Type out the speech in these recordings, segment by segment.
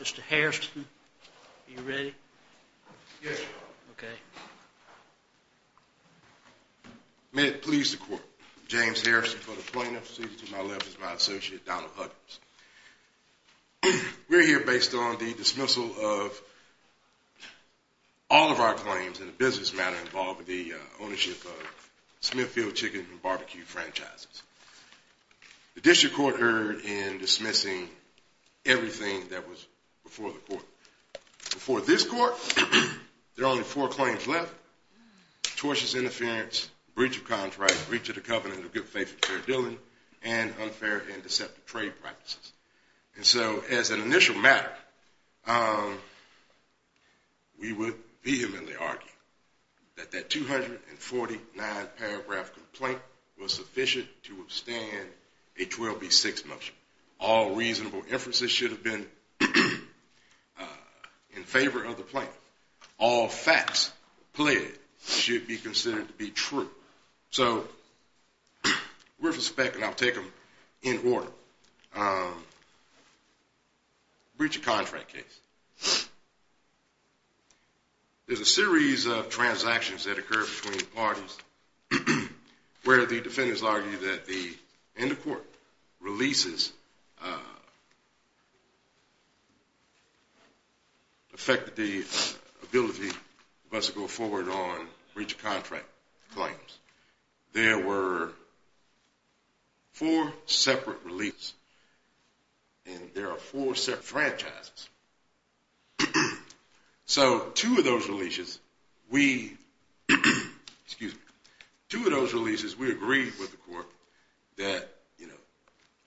Mr. Harrison. Are you ready? Yes. May it please the court, James Harrison for the plaintiff's We're here based on the dismissal of all of our claims in the business matter involving the ownership of Smithfield Chicken and Barbecue franchises. The district court erred in dismissing everything that was before the court. Before this court, there are only four claims left. Tortious interference, breach of contract, breach of the covenant of good faith with Fair Dillon, and unfair and deceptive trade practices. And so as an initial matter, we would vehemently argue that that 249-paragraph complaint was sufficient to withstand a 12B6 motion. All reasonable inferences should have been in favor of the plaintiff. All facts played should be considered to be true. So we're suspecting, I'll take them in order, breach of contract case. There's a series of transactions that occur between parties where the defendants argue that the end of court releases affected the ability for us to go forward on breach of contract claims. There were four separate releases and there are four separate franchises. So two of those releases, we agreed with the court that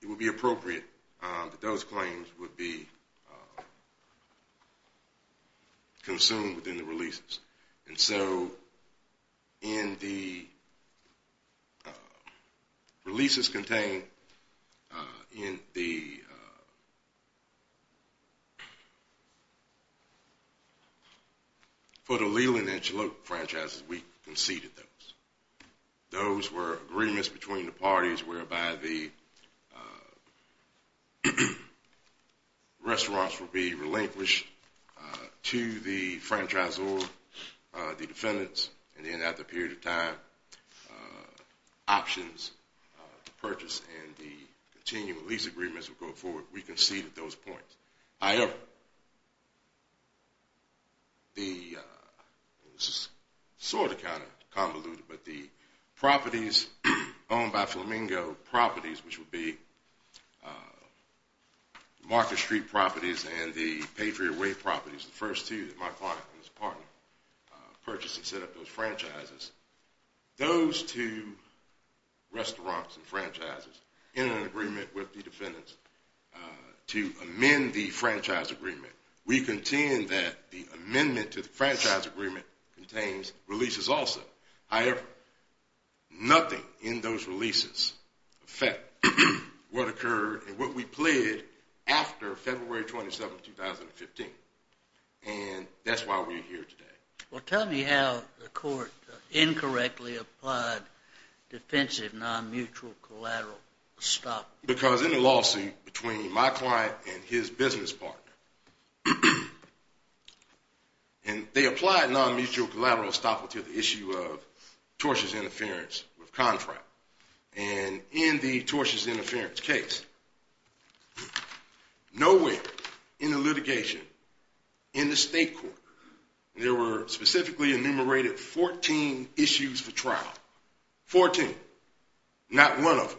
it would be appropriate that those claims would be consumed within the releases. And so in the releases contained in the Foto-Leland and Chalup franchises, we conceded those. Those were agreements between the parties whereby the restaurants would be relinquished to the franchisor, the defendants, and then after a period of time, options to purchase and the continuing lease agreements would go forward. We conceded those points. However, this is sort of kind of convoluted, but the properties owned by Flamingo, properties which would be Market Street properties and the Patriot Way properties, the first two that my client and his partner purchased and set up those franchises, those two restaurants and franchises in an agreement with the defendants to amend the franchise agreement. We contend that the amendment to the franchise agreement contains releases also. However, nothing in those releases affect what occurred and what we pled after February 27, 2015. And that's why we're here today. Well, tell me how the court incorrectly applied defensive non-mutual collateral estoppel. Because in the lawsuit between my client and his business partner, and they applied non-mutual collateral estoppel to the issue of tortious interference with contract. And in the tortious interference case, nowhere in the litigation, in the state court, there were specifically enumerated 14 issues for trial. 14. Not one of them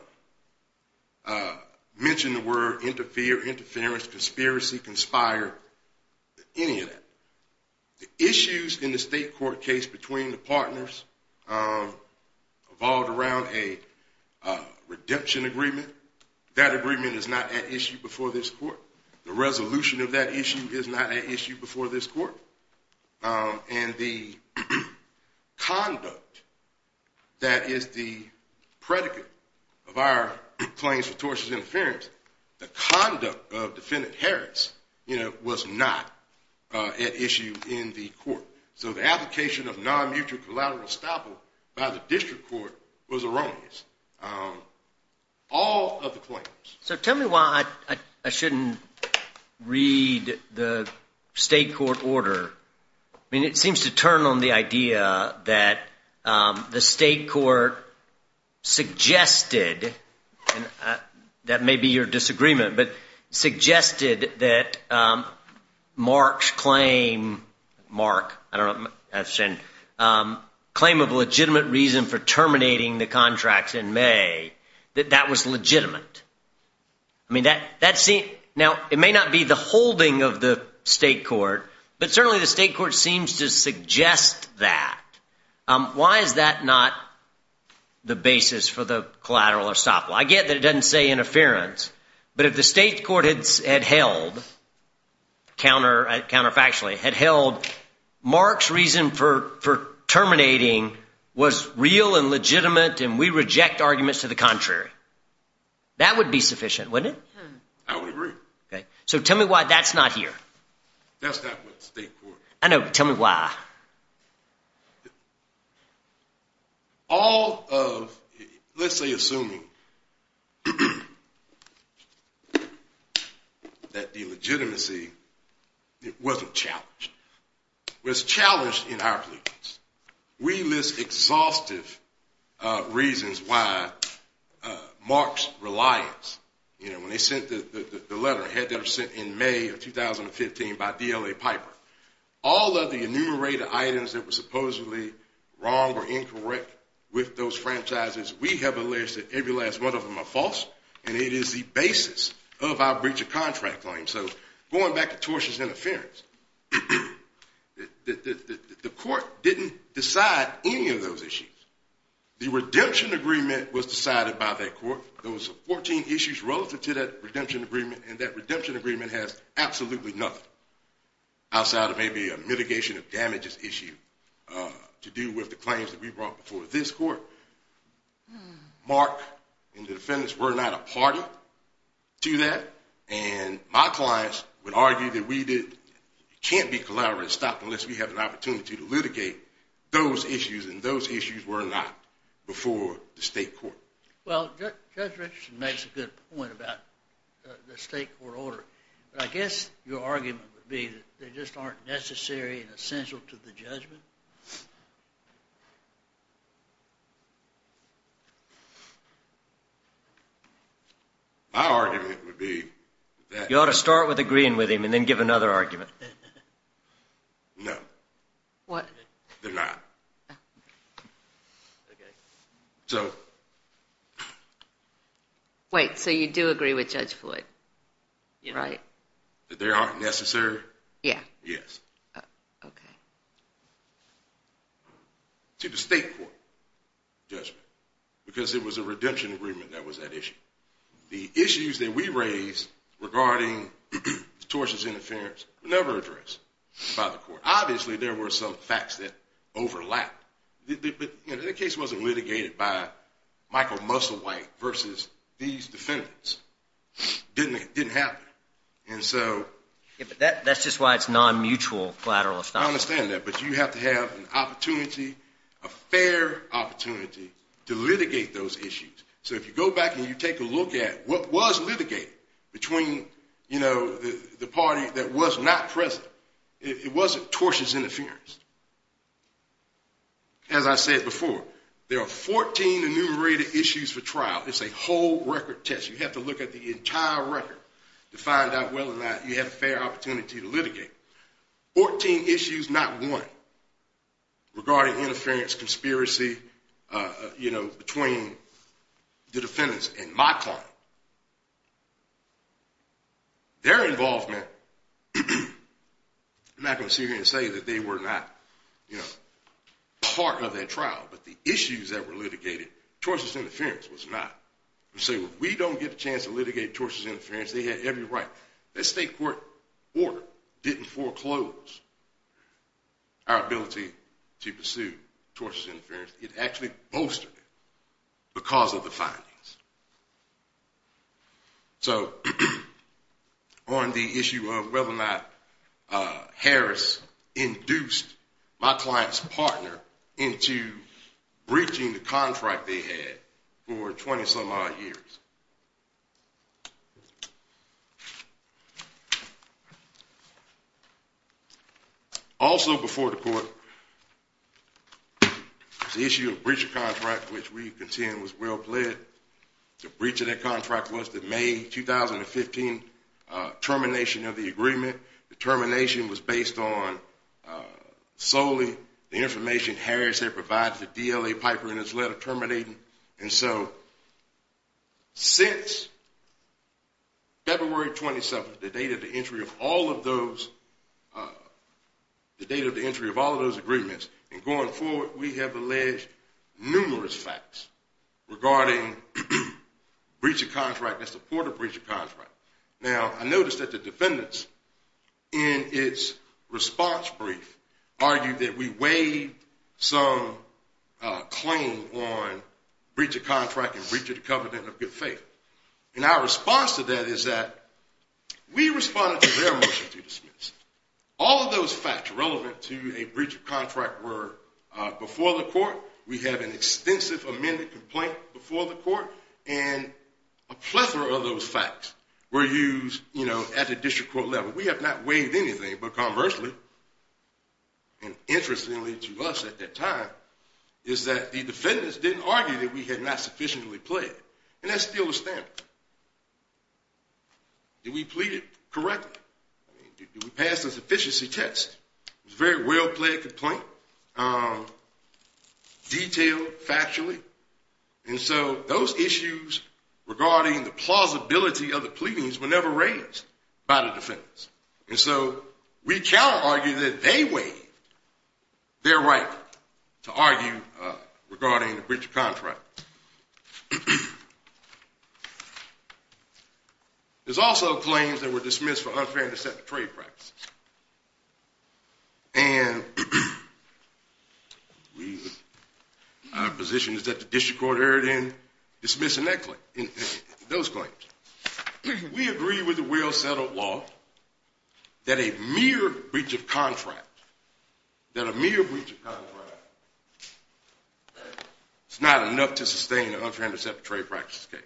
mentioned the word interfere, interference, conspiracy, conspire, any of that. The issues in the state court case between the partners evolved around a redemption agreement. That agreement is not at issue before this court. The resolution of that issue is not at issue before this court. And the conduct that is the predicate of our claims for tortious interference, the conduct of defendant Harris was not at issue in the court. So the application of non-mutual collateral estoppel by the district court was erroneous. All of the claims. So tell me why I shouldn't read the state court order. I mean, it seems to turn on the idea that the state court suggested, and that may be your disagreement, but suggested that Mark's claim, Mark, I don't know, claim of legitimate reason for terminating the contracts in May, that that was legitimate. I mean, now, it may not be the holding of the state court, but certainly the state court seems to suggest that. Why is that not the basis for the collateral estoppel? I get that it doesn't say interference. But if the state court had held, counterfactually, had held Mark's reason for terminating was real and legitimate, and we reject arguments to the contrary, that would be sufficient, wouldn't it? I would agree. So tell me why that's not here. That's not with the state court. I know. Tell me why. All of, let's say, assuming that the legitimacy wasn't challenged, was challenged in our case, we list exhaustive reasons why Mark's reliance, you know, when they sent the letter, had to have sent in May of 2015 by DLA Piper. All of the enumerated items that were supposedly wrong or incorrect with those franchises, we have alleged that every last one of them are false, and it is the basis of our breach of contract claim. So going back to tortious interference, the court didn't decide any of those issues. The redemption agreement was decided by that court. There was 14 issues relative to that redemption agreement, and that redemption agreement has absolutely nothing. Outside of maybe a mitigation of damages issue to do with the claims that we brought before this court, Mark and the defendants were not a party to that, and my clients would argue that we did, can't be collaboratively stopped unless we have an opportunity to litigate those issues, and those issues were not before the state court. Well, Judge Richardson makes a good point about the state court order, but I guess your argument would be that they just aren't necessary and essential to the judgment? My argument would be that... You ought to start with agreeing with him and then give another argument. No. What? They're not. Okay. Wait, so you do agree with Judge Floyd, right? That they aren't necessary? Yeah. Yes. Okay. To the state court judgment, because it was a redemption agreement that was at issue. The issues that we raised regarding tortious interference were never addressed by the court. Obviously, there were some facts that overlapped, but the case wasn't litigated. It wasn't litigated by Michael Musselwhite versus these defendants. It didn't happen, and so... Yeah, but that's just why it's non-mutual collateral. I understand that, but you have to have an opportunity, a fair opportunity to litigate those issues. So if you go back and you take a look at what was litigated between the party that was not present, it wasn't tortious interference. As I said before, there are 14 enumerated issues for trial. It's a whole record test. You have to look at the entire record to find out whether or not you had a fair opportunity to litigate. Fourteen issues, not one, regarding interference, conspiracy, you know, between the defendants and my client. Their involvement, I'm not going to sit here and say that they were not part of that trial, but the issues that were litigated, tortious interference was not. So if we don't get a chance to litigate tortious interference, they had every right. That state court order didn't foreclose our ability to pursue tortious interference. It actually bolstered it because of the findings. So on the issue of whether or not Harris induced my client's partner into breaching the contract they had for 20 some odd years. Also before the court, the issue of breach of contract, which we contend was well played. The breach of that contract was the May 2015 termination of the agreement. The termination was based on solely the information Harris had provided to DLA Piper in his letter terminating. And so since February 27th, the date of the entry of all of those, the date of the entry of all of those agreements, and going forward we have alleged numerous facts regarding breach of contract, the support of breach of contract. Now I noticed that the defendants in its response brief argued that we waived some claim on breach of contract and breach of covenant of good faith. And our response to that is that we responded to their motion to dismiss. All of those facts relevant to a breach of contract were before the court. We have an extensive amended complaint before the court and a plethora of those facts. Were used at the district court level. We have not waived anything, but conversely, and interestingly to us at that time, is that the defendants didn't argue that we had not sufficiently played. And that's still the standard. Did we plead it correctly? Did we pass a sufficiency test? It was a very well played complaint, detailed factually. And so those issues regarding the plausibility of the pleadings were never raised by the defendants. And so we cannot argue that they waived their right to argue regarding the breach of contract. There's also claims that were dismissed for unfair and deceptive trade practices. And our position is that the district court erred in dismissing those claims. We agree with the well settled law that a mere breach of contract, that a mere breach of contract, is not enough to sustain an unfair and deceptive trade practice case.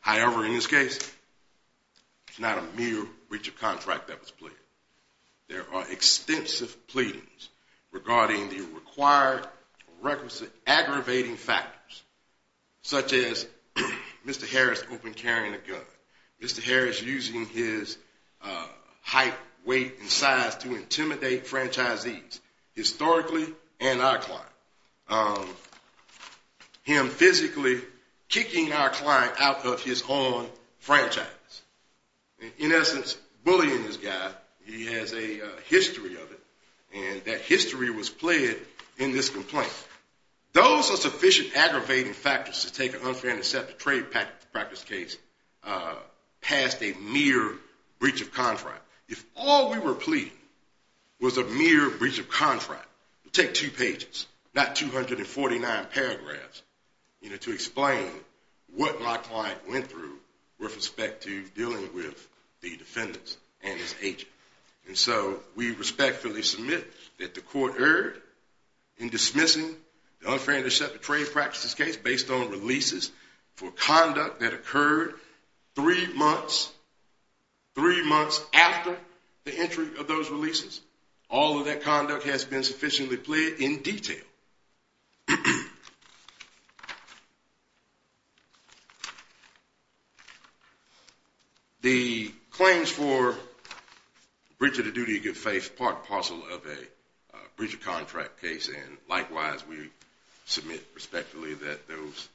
However, in this case, it's not a mere breach of contract that was pleaded. There are extensive pleadings regarding the required requisite aggravating factors, such as Mr. Harris open carrying a gun. Mr. Harris using his height, weight, and size to intimidate franchisees, historically, and our client. Him physically kicking our client out of his own franchise. In essence, bullying this guy. He has a history of it. And that history was played in this complaint. Those are sufficient aggravating factors to take an unfair and deceptive trade practice case past a mere breach of contract. If all we were pleading was a mere breach of contract, it would take two pages, not 249 paragraphs, to explain what my client went through with respect to dealing with the defendants and his agent. And so we respectfully submit that the court erred in dismissing the unfair and deceptive trade practice case based on releases for conduct that occurred three months after the entry of those releases. All of that conduct has been sufficiently plead in detail. The claims for breach of the duty of good faith part and parcel of a breach of contract case, and likewise, we submit respectfully that those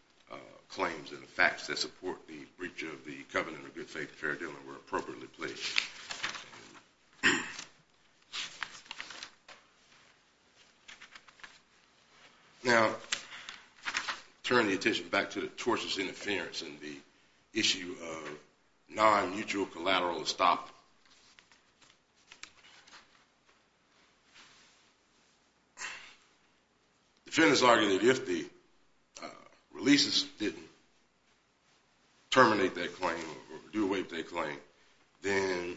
claims and the facts that support the breach of the covenant of good faith fair dealing were appropriately pledged. Now, turning the attention back to the tortious interference and the issue of non-mutual collateral to stop, the defendants argued that if the releases didn't terminate their claim or do await their claim, then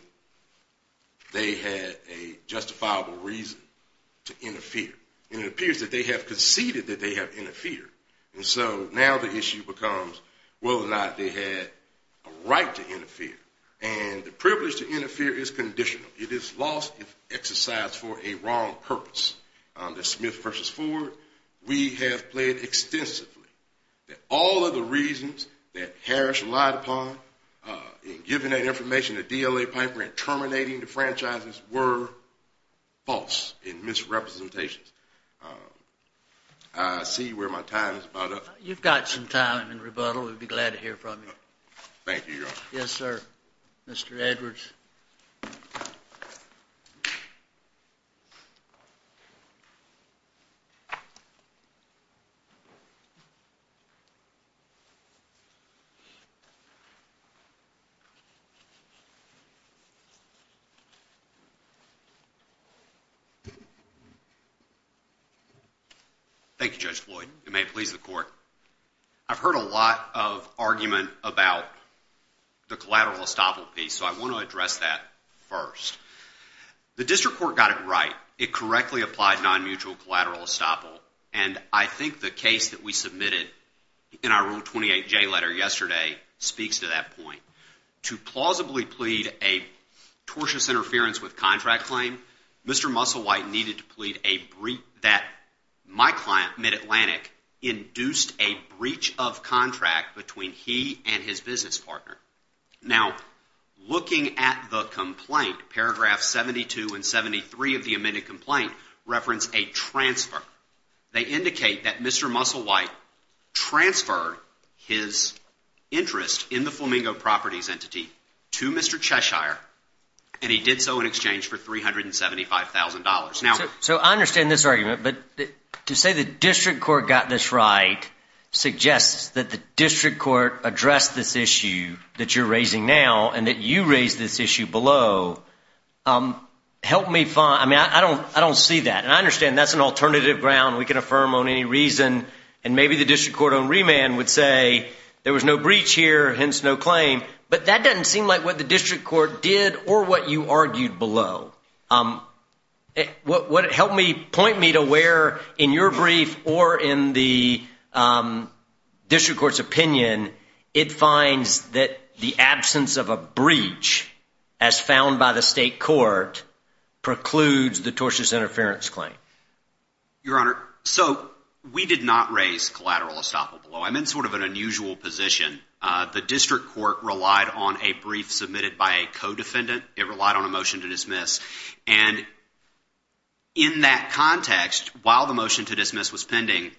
they had a justifiable reason to interfere. And it appears that they have conceded that they have interfered. And so now the issue becomes whether or not they had a right to interfere. And the privilege to interfere is conditional. It is lost if exercised for a wrong purpose. We have pled extensively that all of the reasons that Harris relied upon in giving that information to DLA Piper and terminating the franchises were false in misrepresentations. I see where my time is about up. You've got some time in rebuttal. We'd be glad to hear from you. Thank you, Your Honor. Yes, sir. Mr. Edwards. Thank you, Judge Floyd. You may please the court. I've heard a lot of argument about the collateral estoppel piece, so I want to address that first. The district court got it right. It correctly applied non-mutual collateral estoppel. And I think the case that we submitted in our Rule 28J letter yesterday speaks to that point. To plausibly plead a tortious interference with contract claim, Mr. Musselwhite needed to plead that my client, MidAtlantic, induced a breach of contract between he and his business partner. Now, looking at the complaint, paragraphs 72 and 73 of the amended complaint reference a transfer. They indicate that Mr. Musselwhite transferred his interest in the Flamingo Properties entity to Mr. Cheshire, and he did so in exchange for $375,000. So I understand this argument, but to say the district court got this right suggests that the district court addressed this issue that you're raising now and that you raised this issue below. I don't see that. And I understand that's an alternative ground we can affirm on any reason, and maybe the district court on remand would say there was no breach here, hence no claim. But that doesn't seem like what the district court did or what you argued below. What it helped me point me to where, in your brief or in the district court's opinion, it finds that the absence of a breach, as found by the state court, precludes the tortious interference claim. Your Honor, so we did not raise collateral estoppel below. I'm in sort of an unusual position. The district court relied on a brief submitted by a co-defendant. It relied on a motion to dismiss. And in that context, while the motion to dismiss was pending,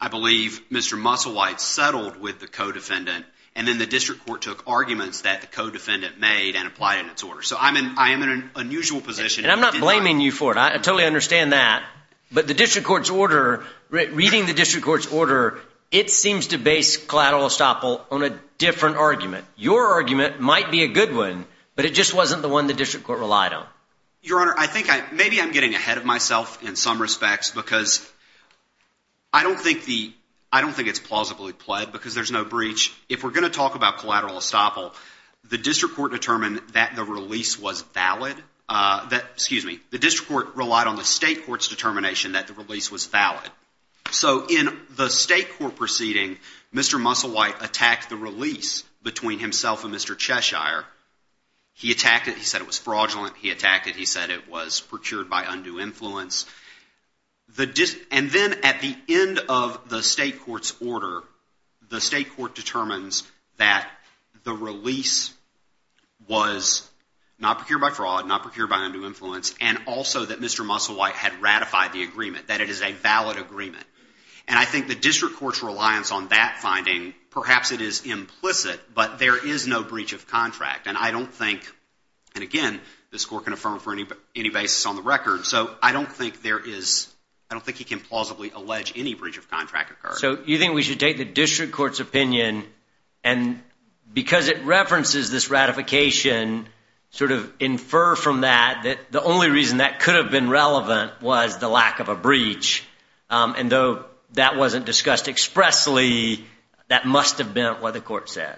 I believe Mr. Musselwhite settled with the co-defendant, and then the district court took arguments that the co-defendant made and applied in its order. So I am in an unusual position. And I'm not blaming you for it. I totally understand that. But the district court's order, reading the district court's order, it seems to base collateral estoppel on a different argument. Your argument might be a good one, but it just wasn't the one the district court relied on. Your Honor, I think maybe I'm getting ahead of myself in some respects because I don't think it's plausibly pled because there's no breach. If we're going to talk about collateral estoppel, the district court determined that the release was valid. Excuse me. The district court relied on the state court's determination that the release was valid. So in the state court proceeding, Mr. Musselwhite attacked the release between himself and Mr. Cheshire. He attacked it. He said it was fraudulent. He attacked it. He said it was procured by undue influence. And then at the end of the state court's order, the state court determines that the release was not procured by fraud, not procured by undue influence, and also that Mr. Musselwhite had ratified the agreement, that it is a valid agreement. And I think the district court's reliance on that finding, perhaps it is implicit, but there is no breach of contract. And I don't think, and again, this court can affirm for any basis on the record. So I don't think there is – I don't think he can plausibly allege any breach of contract occurred. So you think we should take the district court's opinion and because it references this ratification sort of infer from that that the only reason that could have been relevant was the lack of a breach. And though that wasn't discussed expressly, that must have been what the court said.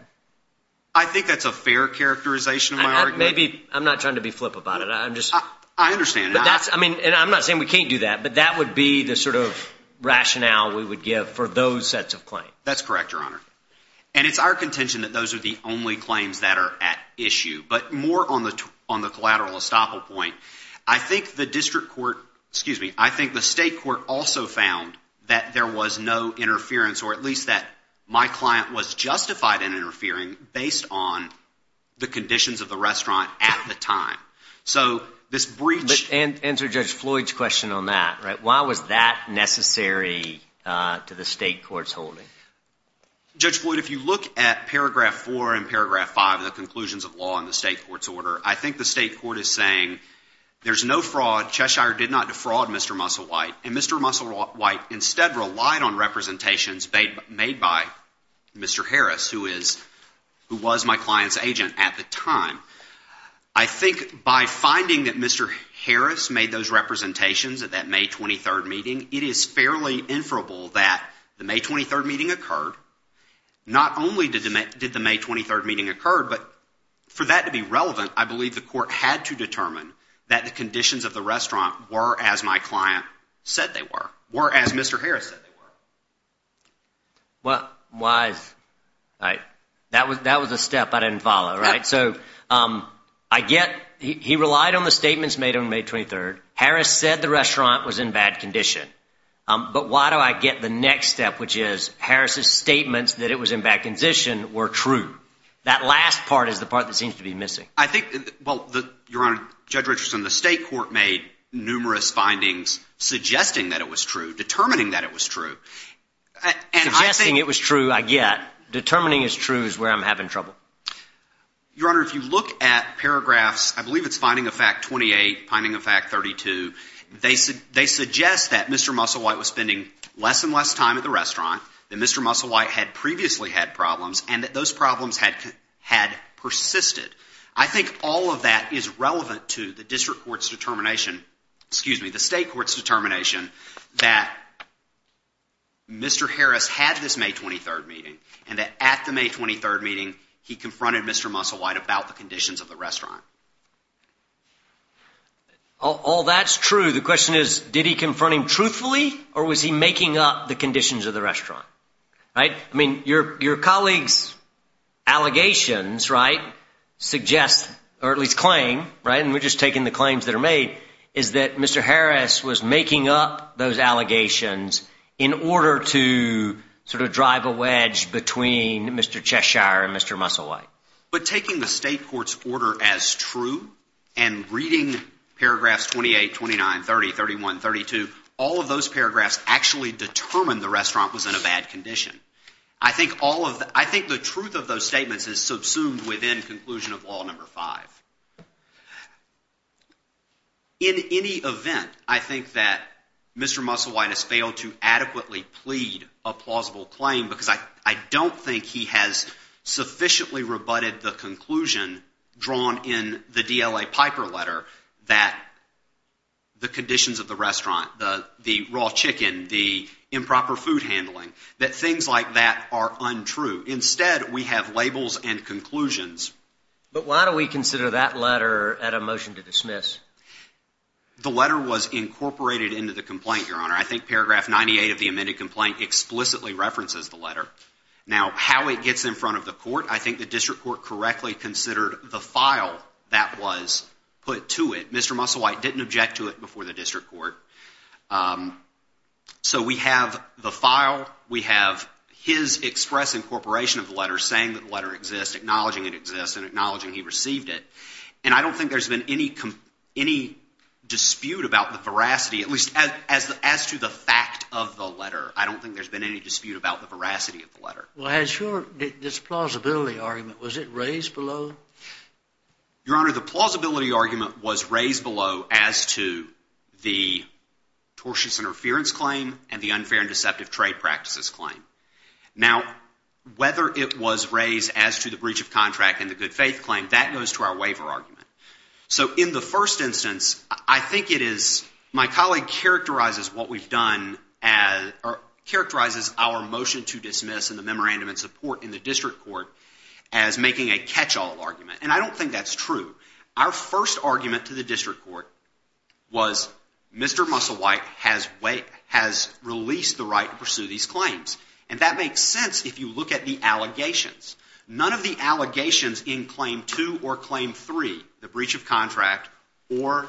I think that's a fair characterization of my argument. Maybe – I'm not trying to be flip about it. I'm just – I understand. But that's – I mean, and I'm not saying we can't do that, but that would be the sort of rationale we would give for those sets of claims. That's correct, Your Honor. And it's our contention that those are the only claims that are at issue. But more on the collateral estoppel point, I think the district court – excuse me. I think the state court also found that there was no interference or at least that my client was justified in interfering based on the conditions of the restaurant at the time. So this breach – Answer Judge Floyd's question on that. Why was that necessary to the state court's holding? Judge Floyd, if you look at paragraph 4 and paragraph 5 of the conclusions of law in the state court's order, I think the state court is saying there's no fraud. Cheshire did not defraud Mr. Musselwhite. And Mr. Musselwhite instead relied on representations made by Mr. Harris, who is – who was my client's agent at the time. I think by finding that Mr. Harris made those representations at that May 23rd meeting, it is fairly inferable that the May 23rd meeting occurred. Not only did the May 23rd meeting occur, but for that to be relevant, I believe the court had to determine that the conditions of the restaurant were as my client said they were, were as Mr. Harris said they were. Why – that was a step I didn't follow, right? So I get – he relied on the statements made on May 23rd. Harris said the restaurant was in bad condition. But why do I get the next step, which is Harris's statements that it was in bad condition were true? That last part is the part that seems to be missing. I think – well, Your Honor, Judge Richardson, the state court made numerous findings suggesting that it was true, determining that it was true. Suggesting it was true, I get. Determining it's true is where I'm having trouble. Your Honor, if you look at paragraphs – I believe it's finding of fact 28, finding of fact 32. They suggest that Mr. Musselwhite was spending less and less time at the restaurant, that Mr. Musselwhite had previously had problems, and that those problems had persisted. I think all of that is relevant to the district court's determination – excuse me, the state court's determination that Mr. Harris had this May 23rd meeting and that at the May 23rd meeting he confronted Mr. Musselwhite about the conditions of the restaurant. All that's true. The question is did he confront him truthfully or was he making up the conditions of the restaurant, right? I mean your colleague's allegations, right, suggest or at least claim, right, and we're just taking the claims that are made, is that Mr. Harris was making up those allegations in order to sort of drive a wedge between Mr. Cheshire and Mr. Musselwhite. But taking the state court's order as true and reading paragraphs 28, 29, 30, 31, 32, all of those paragraphs actually determine the restaurant was in a bad condition. I think all of – I think the truth of those statements is subsumed within conclusion of Law No. 5. In any event, I think that Mr. Musselwhite has failed to adequately plead a plausible claim because I don't think he has sufficiently rebutted the conclusion drawn in the DLA Piper letter that the conditions of the restaurant, the raw chicken, the improper food handling, that things like that are untrue. Instead, we have labels and conclusions. But why do we consider that letter at a motion to dismiss? The letter was incorporated into the complaint, Your Honor. I think paragraph 98 of the amended complaint explicitly references the letter. Now, how it gets in front of the court, I think the district court correctly considered the file that was put to it. Mr. Musselwhite didn't object to it before the district court. So we have the file. We have his express incorporation of the letter saying that the letter exists, acknowledging it exists, and acknowledging he received it. And I don't think there's been any dispute about the veracity, at least as to the fact of the letter. I don't think there's been any dispute about the veracity of the letter. Well, has your – this plausibility argument, was it raised below? Your Honor, the plausibility argument was raised below as to the tortious interference claim and the unfair and deceptive trade practices claim. Now, whether it was raised as to the breach of contract and the good faith claim, that goes to our waiver argument. So in the first instance, I think it is – my colleague characterizes what we've done – characterizes our motion to dismiss and the memorandum in support in the district court as making a catch-all argument. And I don't think that's true. Our first argument to the district court was Mr. Musselwhite has released the right to pursue these claims. And that makes sense if you look at the allegations. None of the allegations in Claim 2 or Claim 3, the breach of contract, or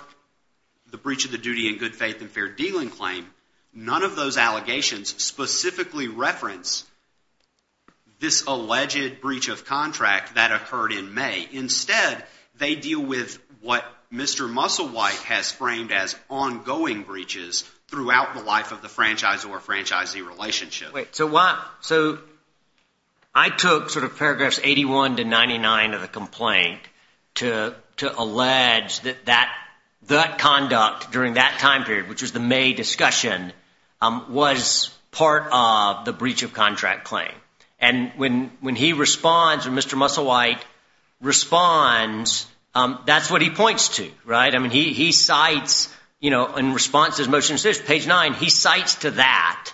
the breach of the duty and good faith and fair dealing claim, none of those allegations specifically reference this alleged breach of contract that occurred in May. Instead, they deal with what Mr. Musselwhite has framed as ongoing breaches throughout the life of the franchise or franchisee relationship. So I took sort of paragraphs 81 to 99 of the complaint to allege that that conduct during that time period, which was the May discussion, was part of the breach of contract claim. And when he responds or Mr. Musselwhite responds, that's what he points to. I mean he cites in response to his motion, page 9, he cites to that.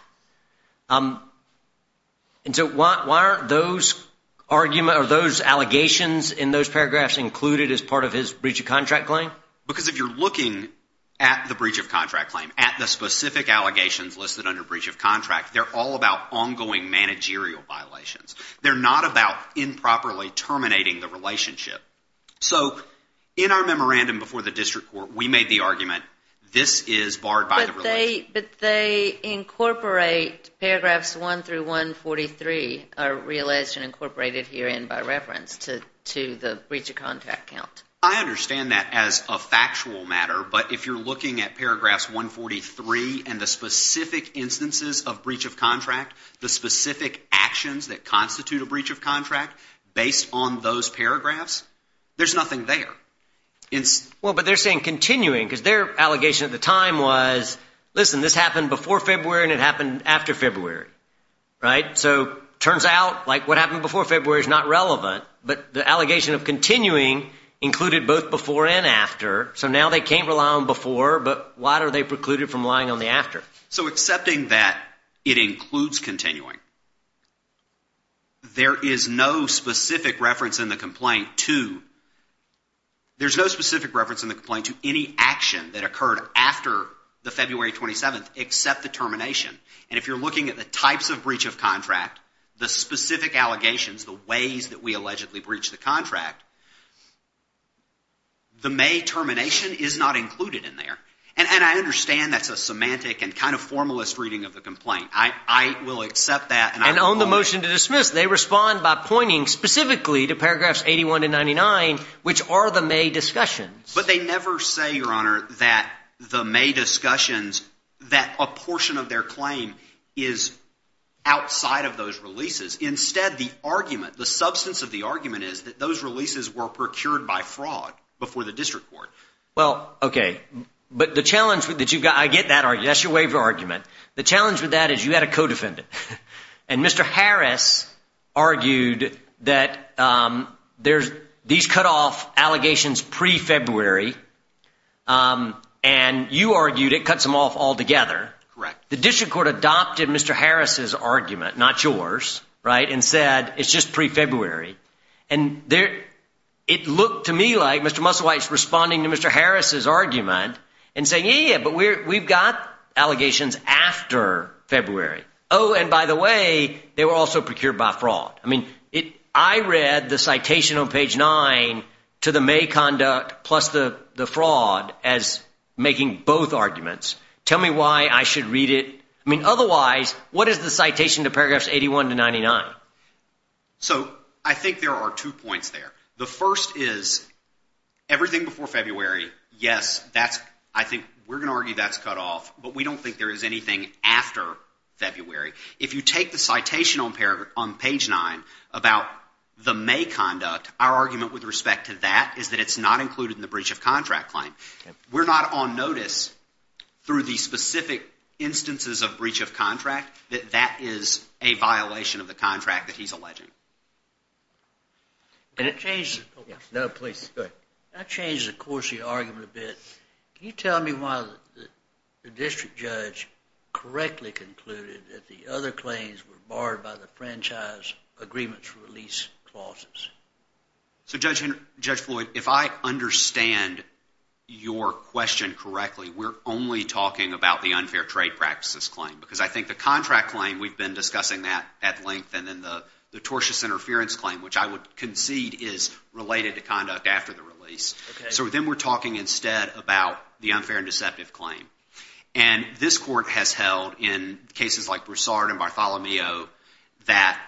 And so why aren't those allegations in those paragraphs included as part of his breach of contract claim? Because if you're looking at the breach of contract claim, at the specific allegations listed under breach of contract, they're all about ongoing managerial violations. They're not about improperly terminating the relationship. So in our memorandum before the district court, we made the argument this is barred by the relationship. But they incorporate paragraphs 1 through 143 are realized and incorporated herein by reference to the breach of contract count. I understand that as a factual matter. But if you're looking at paragraphs 143 and the specific instances of breach of contract, the specific actions that constitute a breach of contract based on those paragraphs, there's nothing there. Well, but they're saying continuing because their allegation at the time was, listen, this happened before February and it happened after February. Right. So turns out like what happened before February is not relevant. But the allegation of continuing included both before and after. So now they can't rely on before. But why are they precluded from relying on the after? So accepting that it includes continuing, there is no specific reference in the complaint to there's no specific reference in the complaint to any action that occurred after the February 27th except the termination. And if you're looking at the types of breach of contract, the specific allegations, the ways that we allegedly breached the contract, the May termination is not included in there. And I understand that's a semantic and kind of formalist reading of the complaint. I will accept that. And on the motion to dismiss, they respond by pointing specifically to paragraphs 81 and 99, which are the May discussions. But they never say, Your Honor, that the May discussions, that a portion of their claim is outside of those releases. Instead, the argument, the substance of the argument is that those releases were procured by fraud before the district court. Well, OK, but the challenge that you've got, I get that argument. That's your waiver argument. The challenge with that is you had a co-defendant. And Mr. Harris argued that these cut off allegations pre-February. And you argued it cuts them off altogether. Correct. The district court adopted Mr. Harris's argument, not yours, and said it's just pre-February. And it looked to me like Mr. Musselwhite's responding to Mr. Harris's argument and saying, Yeah, yeah, but we've got allegations after February. Oh, and by the way, they were also procured by fraud. I mean, I read the citation on page 9 to the May conduct plus the fraud as making both arguments. Tell me why I should read it. I mean, otherwise, what is the citation to paragraphs 81 to 99? So I think there are two points there. The first is everything before February, yes, I think we're going to argue that's cut off. But we don't think there is anything after February. If you take the citation on page 9 about the May conduct, our argument with respect to that is that it's not included in the breach of contract claim. We're not on notice through the specific instances of breach of contract that that is a violation of the contract that he's alleging. Can I change the course of your argument a bit? Can you tell me why the district judge correctly concluded that the other claims were barred by the franchise agreements release clauses? So Judge Floyd, if I understand your question correctly, we're only talking about the unfair trade practices claim. Because I think the contract claim, we've been discussing that at length. And then the tortious interference claim, which I would concede is related to conduct after the release. So then we're talking instead about the unfair and deceptive claim. And this court has held in cases like Broussard and Bartholomew that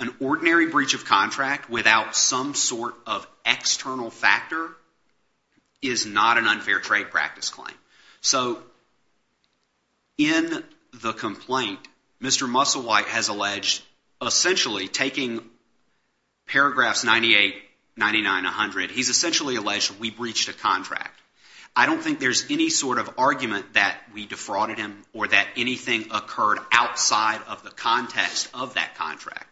an ordinary breach of contract without some sort of external factor is not an unfair trade practice claim. So in the complaint, Mr. Musselwhite has alleged essentially taking paragraphs 98, 99, 100, he's essentially alleged we breached a contract. I don't think there's any sort of argument that we defrauded him or that anything occurred outside of the context of that contract.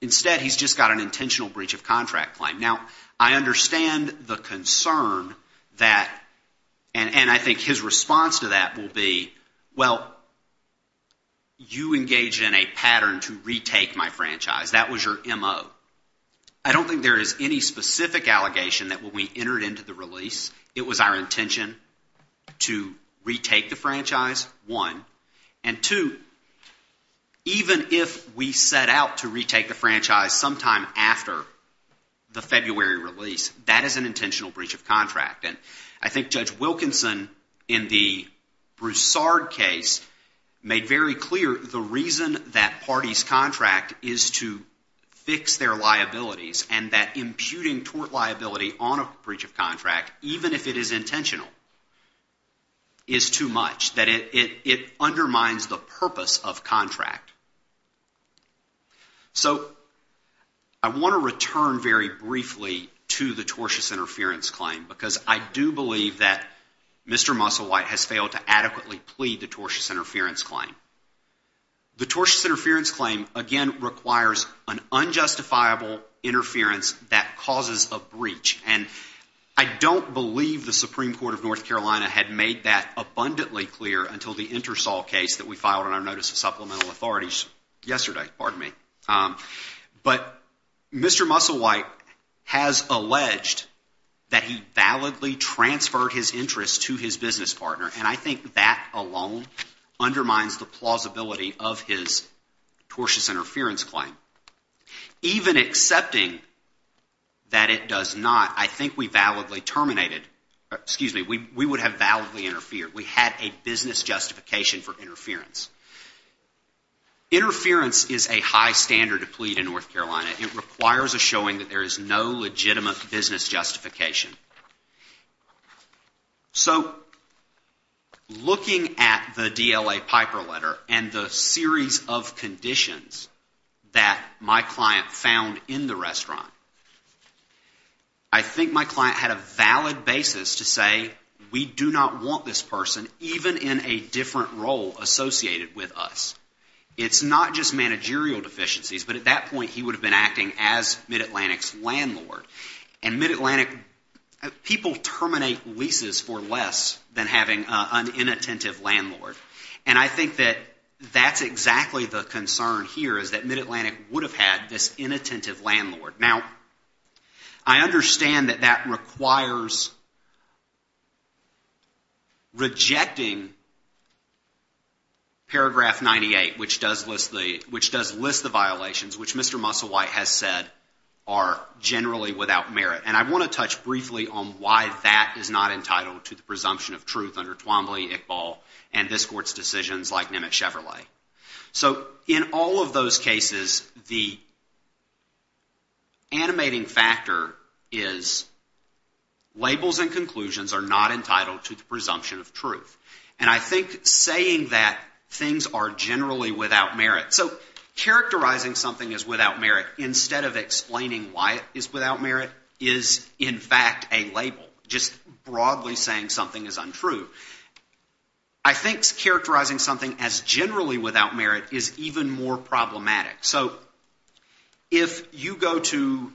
Instead, he's just got an intentional breach of contract claim. Now, I understand the concern that – and I think his response to that will be, well, you engaged in a pattern to retake my franchise. That was your MO. I don't think there is any specific allegation that when we entered into the release, it was our intention to retake the franchise, one. And two, even if we set out to retake the franchise sometime after the February release, that is an intentional breach of contract. And I think Judge Wilkinson in the Broussard case made very clear the reason that party's contract is to fix their liabilities and that imputing tort liability on a breach of contract, even if it is intentional, is too much. That it undermines the purpose of contract. So I want to return very briefly to the tortious interference claim because I do believe that Mr. Musselwhite has failed to adequately plead the tortious interference claim. The tortious interference claim, again, requires an unjustifiable interference that causes a breach. And I don't believe the Supreme Court of North Carolina had made that abundantly clear until the Intersol case that we filed on our notice of supplemental authorities yesterday. Pardon me. But Mr. Musselwhite has alleged that he validly transferred his interest to his business partner. And I think that alone undermines the plausibility of his tortious interference claim. Even accepting that it does not, I think we validly terminated, excuse me, we would have validly interfered. We had a business justification for interference. Interference is a high standard to plead in North Carolina. It requires a showing that there is no legitimate business justification. So looking at the DLA Piper letter and the series of conditions that my client found in the restaurant, I think my client had a valid basis to say we do not want this person even in a different role associated with us. It's not just managerial deficiencies, but at that point he would have been acting as MidAtlantic's landlord. And MidAtlantic, people terminate leases for less than having an inattentive landlord. And I think that that's exactly the concern here is that MidAtlantic would have had this inattentive landlord. Now, I understand that that requires rejecting paragraph 98, which does list the violations, which Mr. Musselwhite has said are generally without merit. And I want to touch briefly on why that is not entitled to the presumption of truth under Twombly, Iqbal, and this Court's decisions like Nimitz Chevrolet. So in all of those cases, the animating factor is labels and conclusions are not entitled to the presumption of truth. And I think saying that things are generally without merit. So characterizing something as without merit instead of explaining why it is without merit is, in fact, a label, just broadly saying something is untrue. I think characterizing something as generally without merit is even more problematic. So if you go to,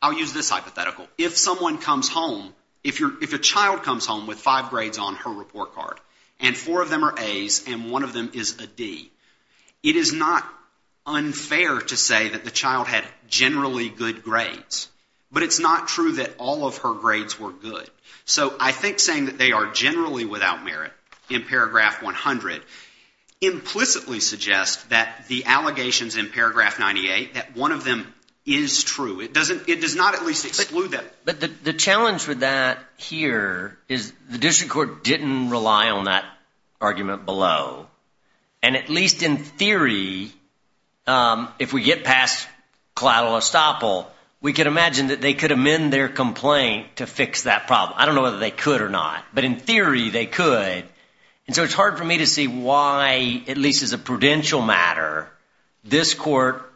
I'll use this hypothetical, if someone comes home, if a child comes home with five grades on her report card and four of them are A's and one of them is a D, it is not unfair to say that the child had generally good grades. But it's not true that all of her grades were good. So I think saying that they are generally without merit in paragraph 100 implicitly suggests that the allegations in paragraph 98, that one of them is true. It does not at least exclude them. But the challenge with that here is the district court didn't rely on that argument below. And at least in theory, if we get past collateral estoppel, we can imagine that they could amend their complaint to fix that problem. I don't know whether they could or not, but in theory they could. And so it's hard for me to see why, at least as a prudential matter, this court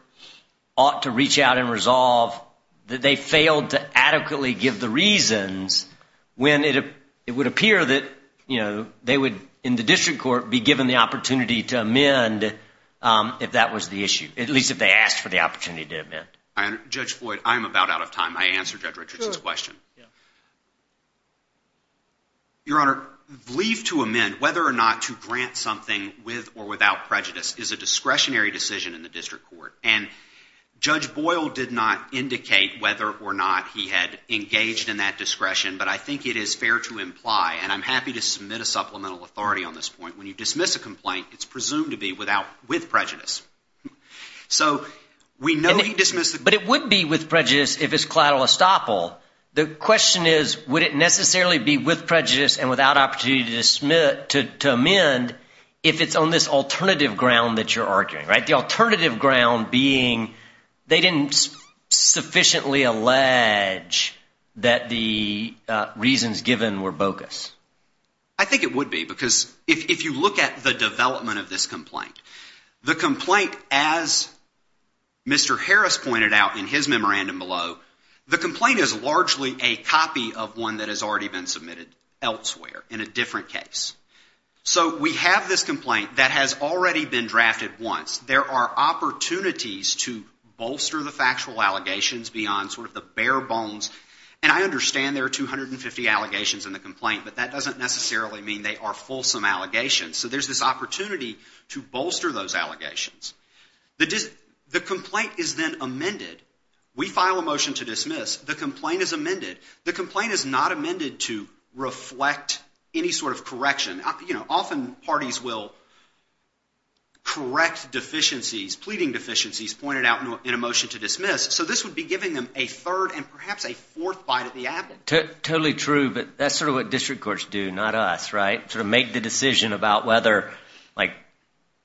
ought to reach out and resolve that they failed to adequately give the reasons when it would appear that they would, in the district court, be given the opportunity to amend if that was the issue, at least if they asked for the opportunity to amend. Judge Boyd, I am about out of time. I answered Judge Richardson's question. Your Honor, leave to amend, whether or not to grant something with or without prejudice, is a discretionary decision in the district court. And Judge Boyle did not indicate whether or not he had engaged in that discretion. But I think it is fair to imply, and I'm happy to submit a supplemental authority on this point, when you dismiss a complaint, it's presumed to be with prejudice. So we know he dismissed the complaint. But it would be with prejudice if it's collateral estoppel. The question is, would it necessarily be with prejudice and without opportunity to amend if it's on this alternative ground that you're arguing, right? The alternative ground being they didn't sufficiently allege that the reasons given were bogus. I think it would be, because if you look at the development of this complaint, the complaint, as Mr. Harris pointed out in his memorandum below, the complaint is largely a copy of one that has already been submitted elsewhere in a different case. So we have this complaint that has already been drafted once. There are opportunities to bolster the factual allegations beyond sort of the bare bones. And I understand there are 250 allegations in the complaint, but that doesn't necessarily mean they are fulsome allegations. So there's this opportunity to bolster those allegations. The complaint is then amended. We file a motion to dismiss. The complaint is amended. The complaint is not amended to reflect any sort of correction. Often parties will correct deficiencies, pleading deficiencies pointed out in a motion to dismiss. So this would be giving them a third and perhaps a fourth bite of the apple. Totally true, but that's sort of what district courts do, not us, right? They sort of make the decision about whether, like,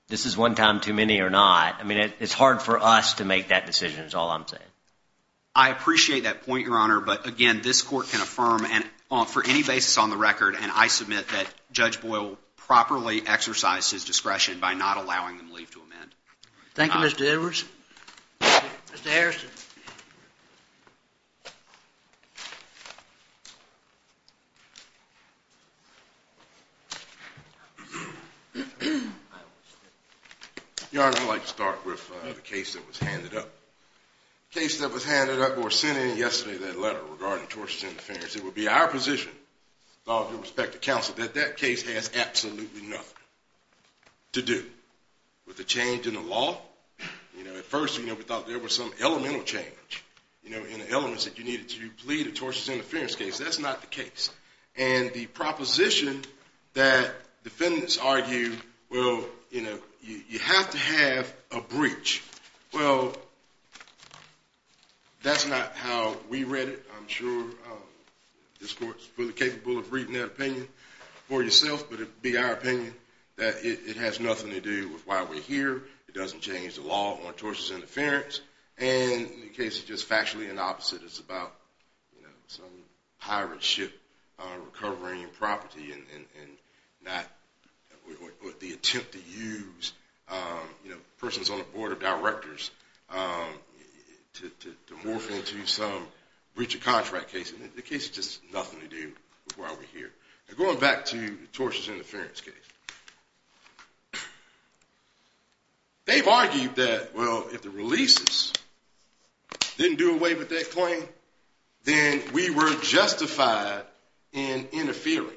this is one time too many or not. I mean, it's hard for us to make that decision is all I'm saying. I appreciate that point, Your Honor, but, again, this court can affirm for any basis on the record, and I submit that Judge Boyle properly exercised his discretion by not allowing them leave to amend. Thank you, Mr. Edwards. Mr. Harrison. Your Honor, I'd like to start with the case that was handed up. The case that was handed up or sent in yesterday, that letter regarding tortious interference, it would be our position, with all due respect to counsel, that that case has absolutely nothing to do with the change in the law. You know, at first, you know, we thought there was some elemental change, you know, in the elements that you needed to plead a tortious interference case. That's not the case, and the proposition that defendants argue, well, you know, you have to have a breach. Well, that's not how we read it, I'm sure. This court is fully capable of reading that opinion for yourself, but it would be our opinion that it has nothing to do with why we're here. It doesn't change the law on tortious interference, and the case is just factually the opposite. It's about, you know, some pirate ship recovering property and not the attempt to use, you know, persons on the board of directors to morph into some breach of contract case. The case has just nothing to do with why we're here. Now, going back to the tortious interference case, they've argued that, well, if the releases didn't do away with that claim, then we were justified in interfering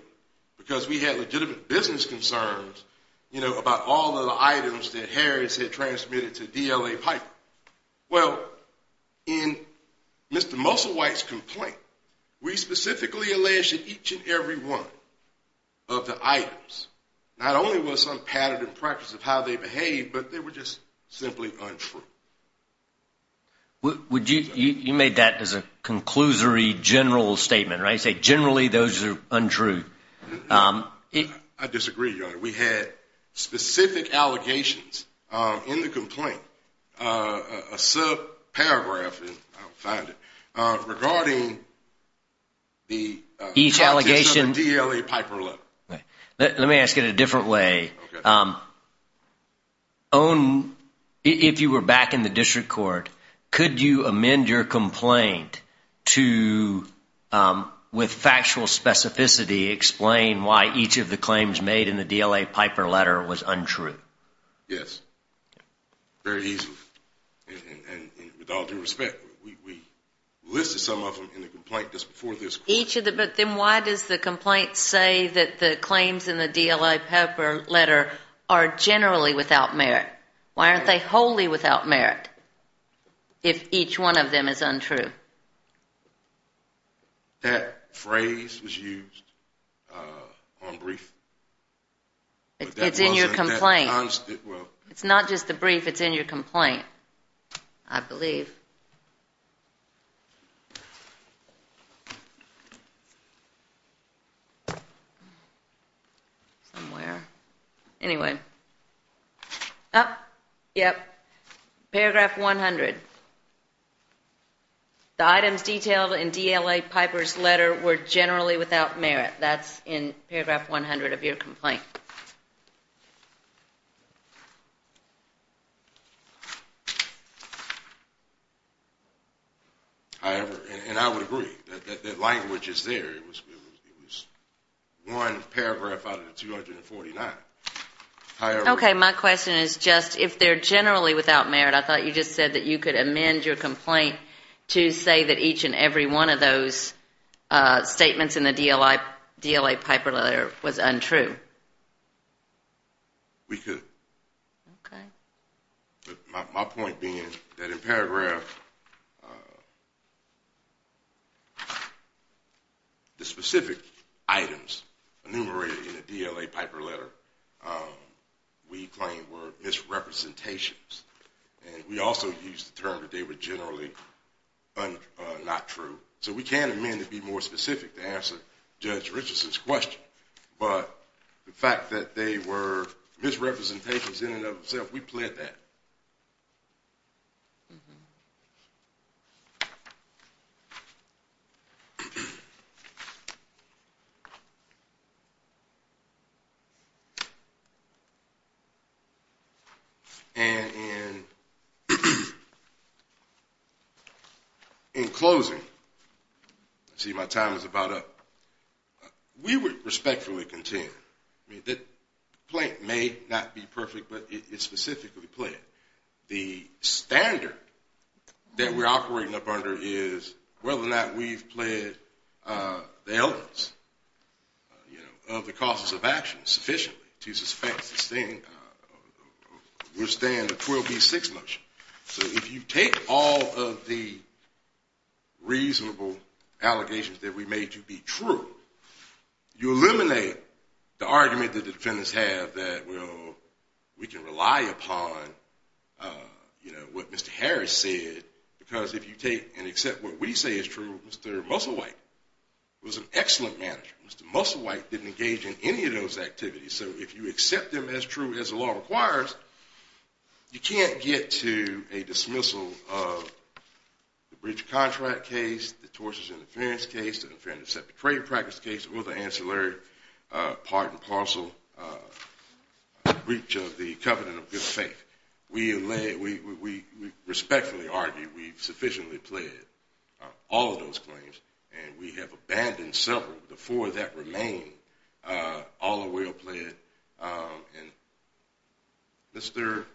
because we had legitimate business concerns, you know, about all of the items that Harris had transmitted to DLA Piper. Well, in Mr. Moselwhite's complaint, we specifically alleged that each and every one of the items, not only was some pattern and practice of how they behaved, but they were just simply untrue. You made that as a conclusory general statement, right? Say generally those are untrue. I disagree, Your Honor. We had specific allegations in the complaint, a subparagraph, if I can find it, regarding the practice of the DLA Piper law. Let me ask it a different way. Okay. If you were back in the district court, could you amend your complaint to, with factual specificity, explain why each of the claims made in the DLA Piper letter was untrue? Yes. Very easily. And with all due respect, we listed some of them in the complaint just before this court. But then why does the complaint say that the claims in the DLA Piper letter are generally without merit? Why aren't they wholly without merit if each one of them is untrue? That phrase was used on brief. It's in your complaint. Well. It's not just the brief. It's in your complaint, I believe. Somewhere. Anyway. Yep. Paragraph 100. The items detailed in DLA Piper's letter were generally without merit. That's in paragraph 100 of your complaint. However, and I would agree that that language is there. It was one paragraph out of the 249. Okay. My question is just, if they're generally without merit, I thought you just said that you could amend your complaint to say that each and every one of those statements in the DLA Piper letter was untrue. We could. Okay. My point being that in paragraph, the specific items enumerated in the DLA Piper letter we claim were misrepresentations. And we also used the term that they were generally not true. So we can amend to be more specific to answer Judge Richardson's question. But the fact that they were misrepresentations in and of themselves, we pled that. And in closing, let's see, my time is about up. We would respectfully contend that the complaint may not be perfect, but it's specifically pled. The standard that we're operating up under is whether or not we've pled the elements, you know, of the causes of action sufficiently to suspect this thing, we're staying in the 12B6 motion. So if you take all of the reasonable allegations that we made to be true, you eliminate the argument that the defendants have that we can rely upon, you know, what Mr. Harris said. Because if you take and accept what we say is true, Mr. Musselwhite was an excellent manager. Mr. Musselwhite didn't engage in any of those activities. So if you accept them as true as the law requires, you can't get to a dismissal of the breach of contract case, the tortious interference case, the unfair and deceptive trade practice case, or the ancillary part and parcel breach of the covenant of good faith. We respectfully argue we've sufficiently pled all of those claims. And we have abandoned several. The four that remain all are well pled. And Mr.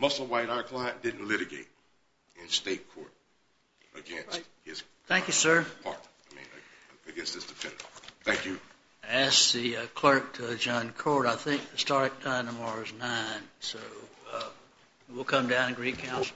Musselwhite, our client, didn't litigate in state court against his client. Thank you, sir. I mean, against his defendant. Thank you. I ask the clerk to adjourn court. I think the start time tomorrow is 9. So we'll come down and agree to council.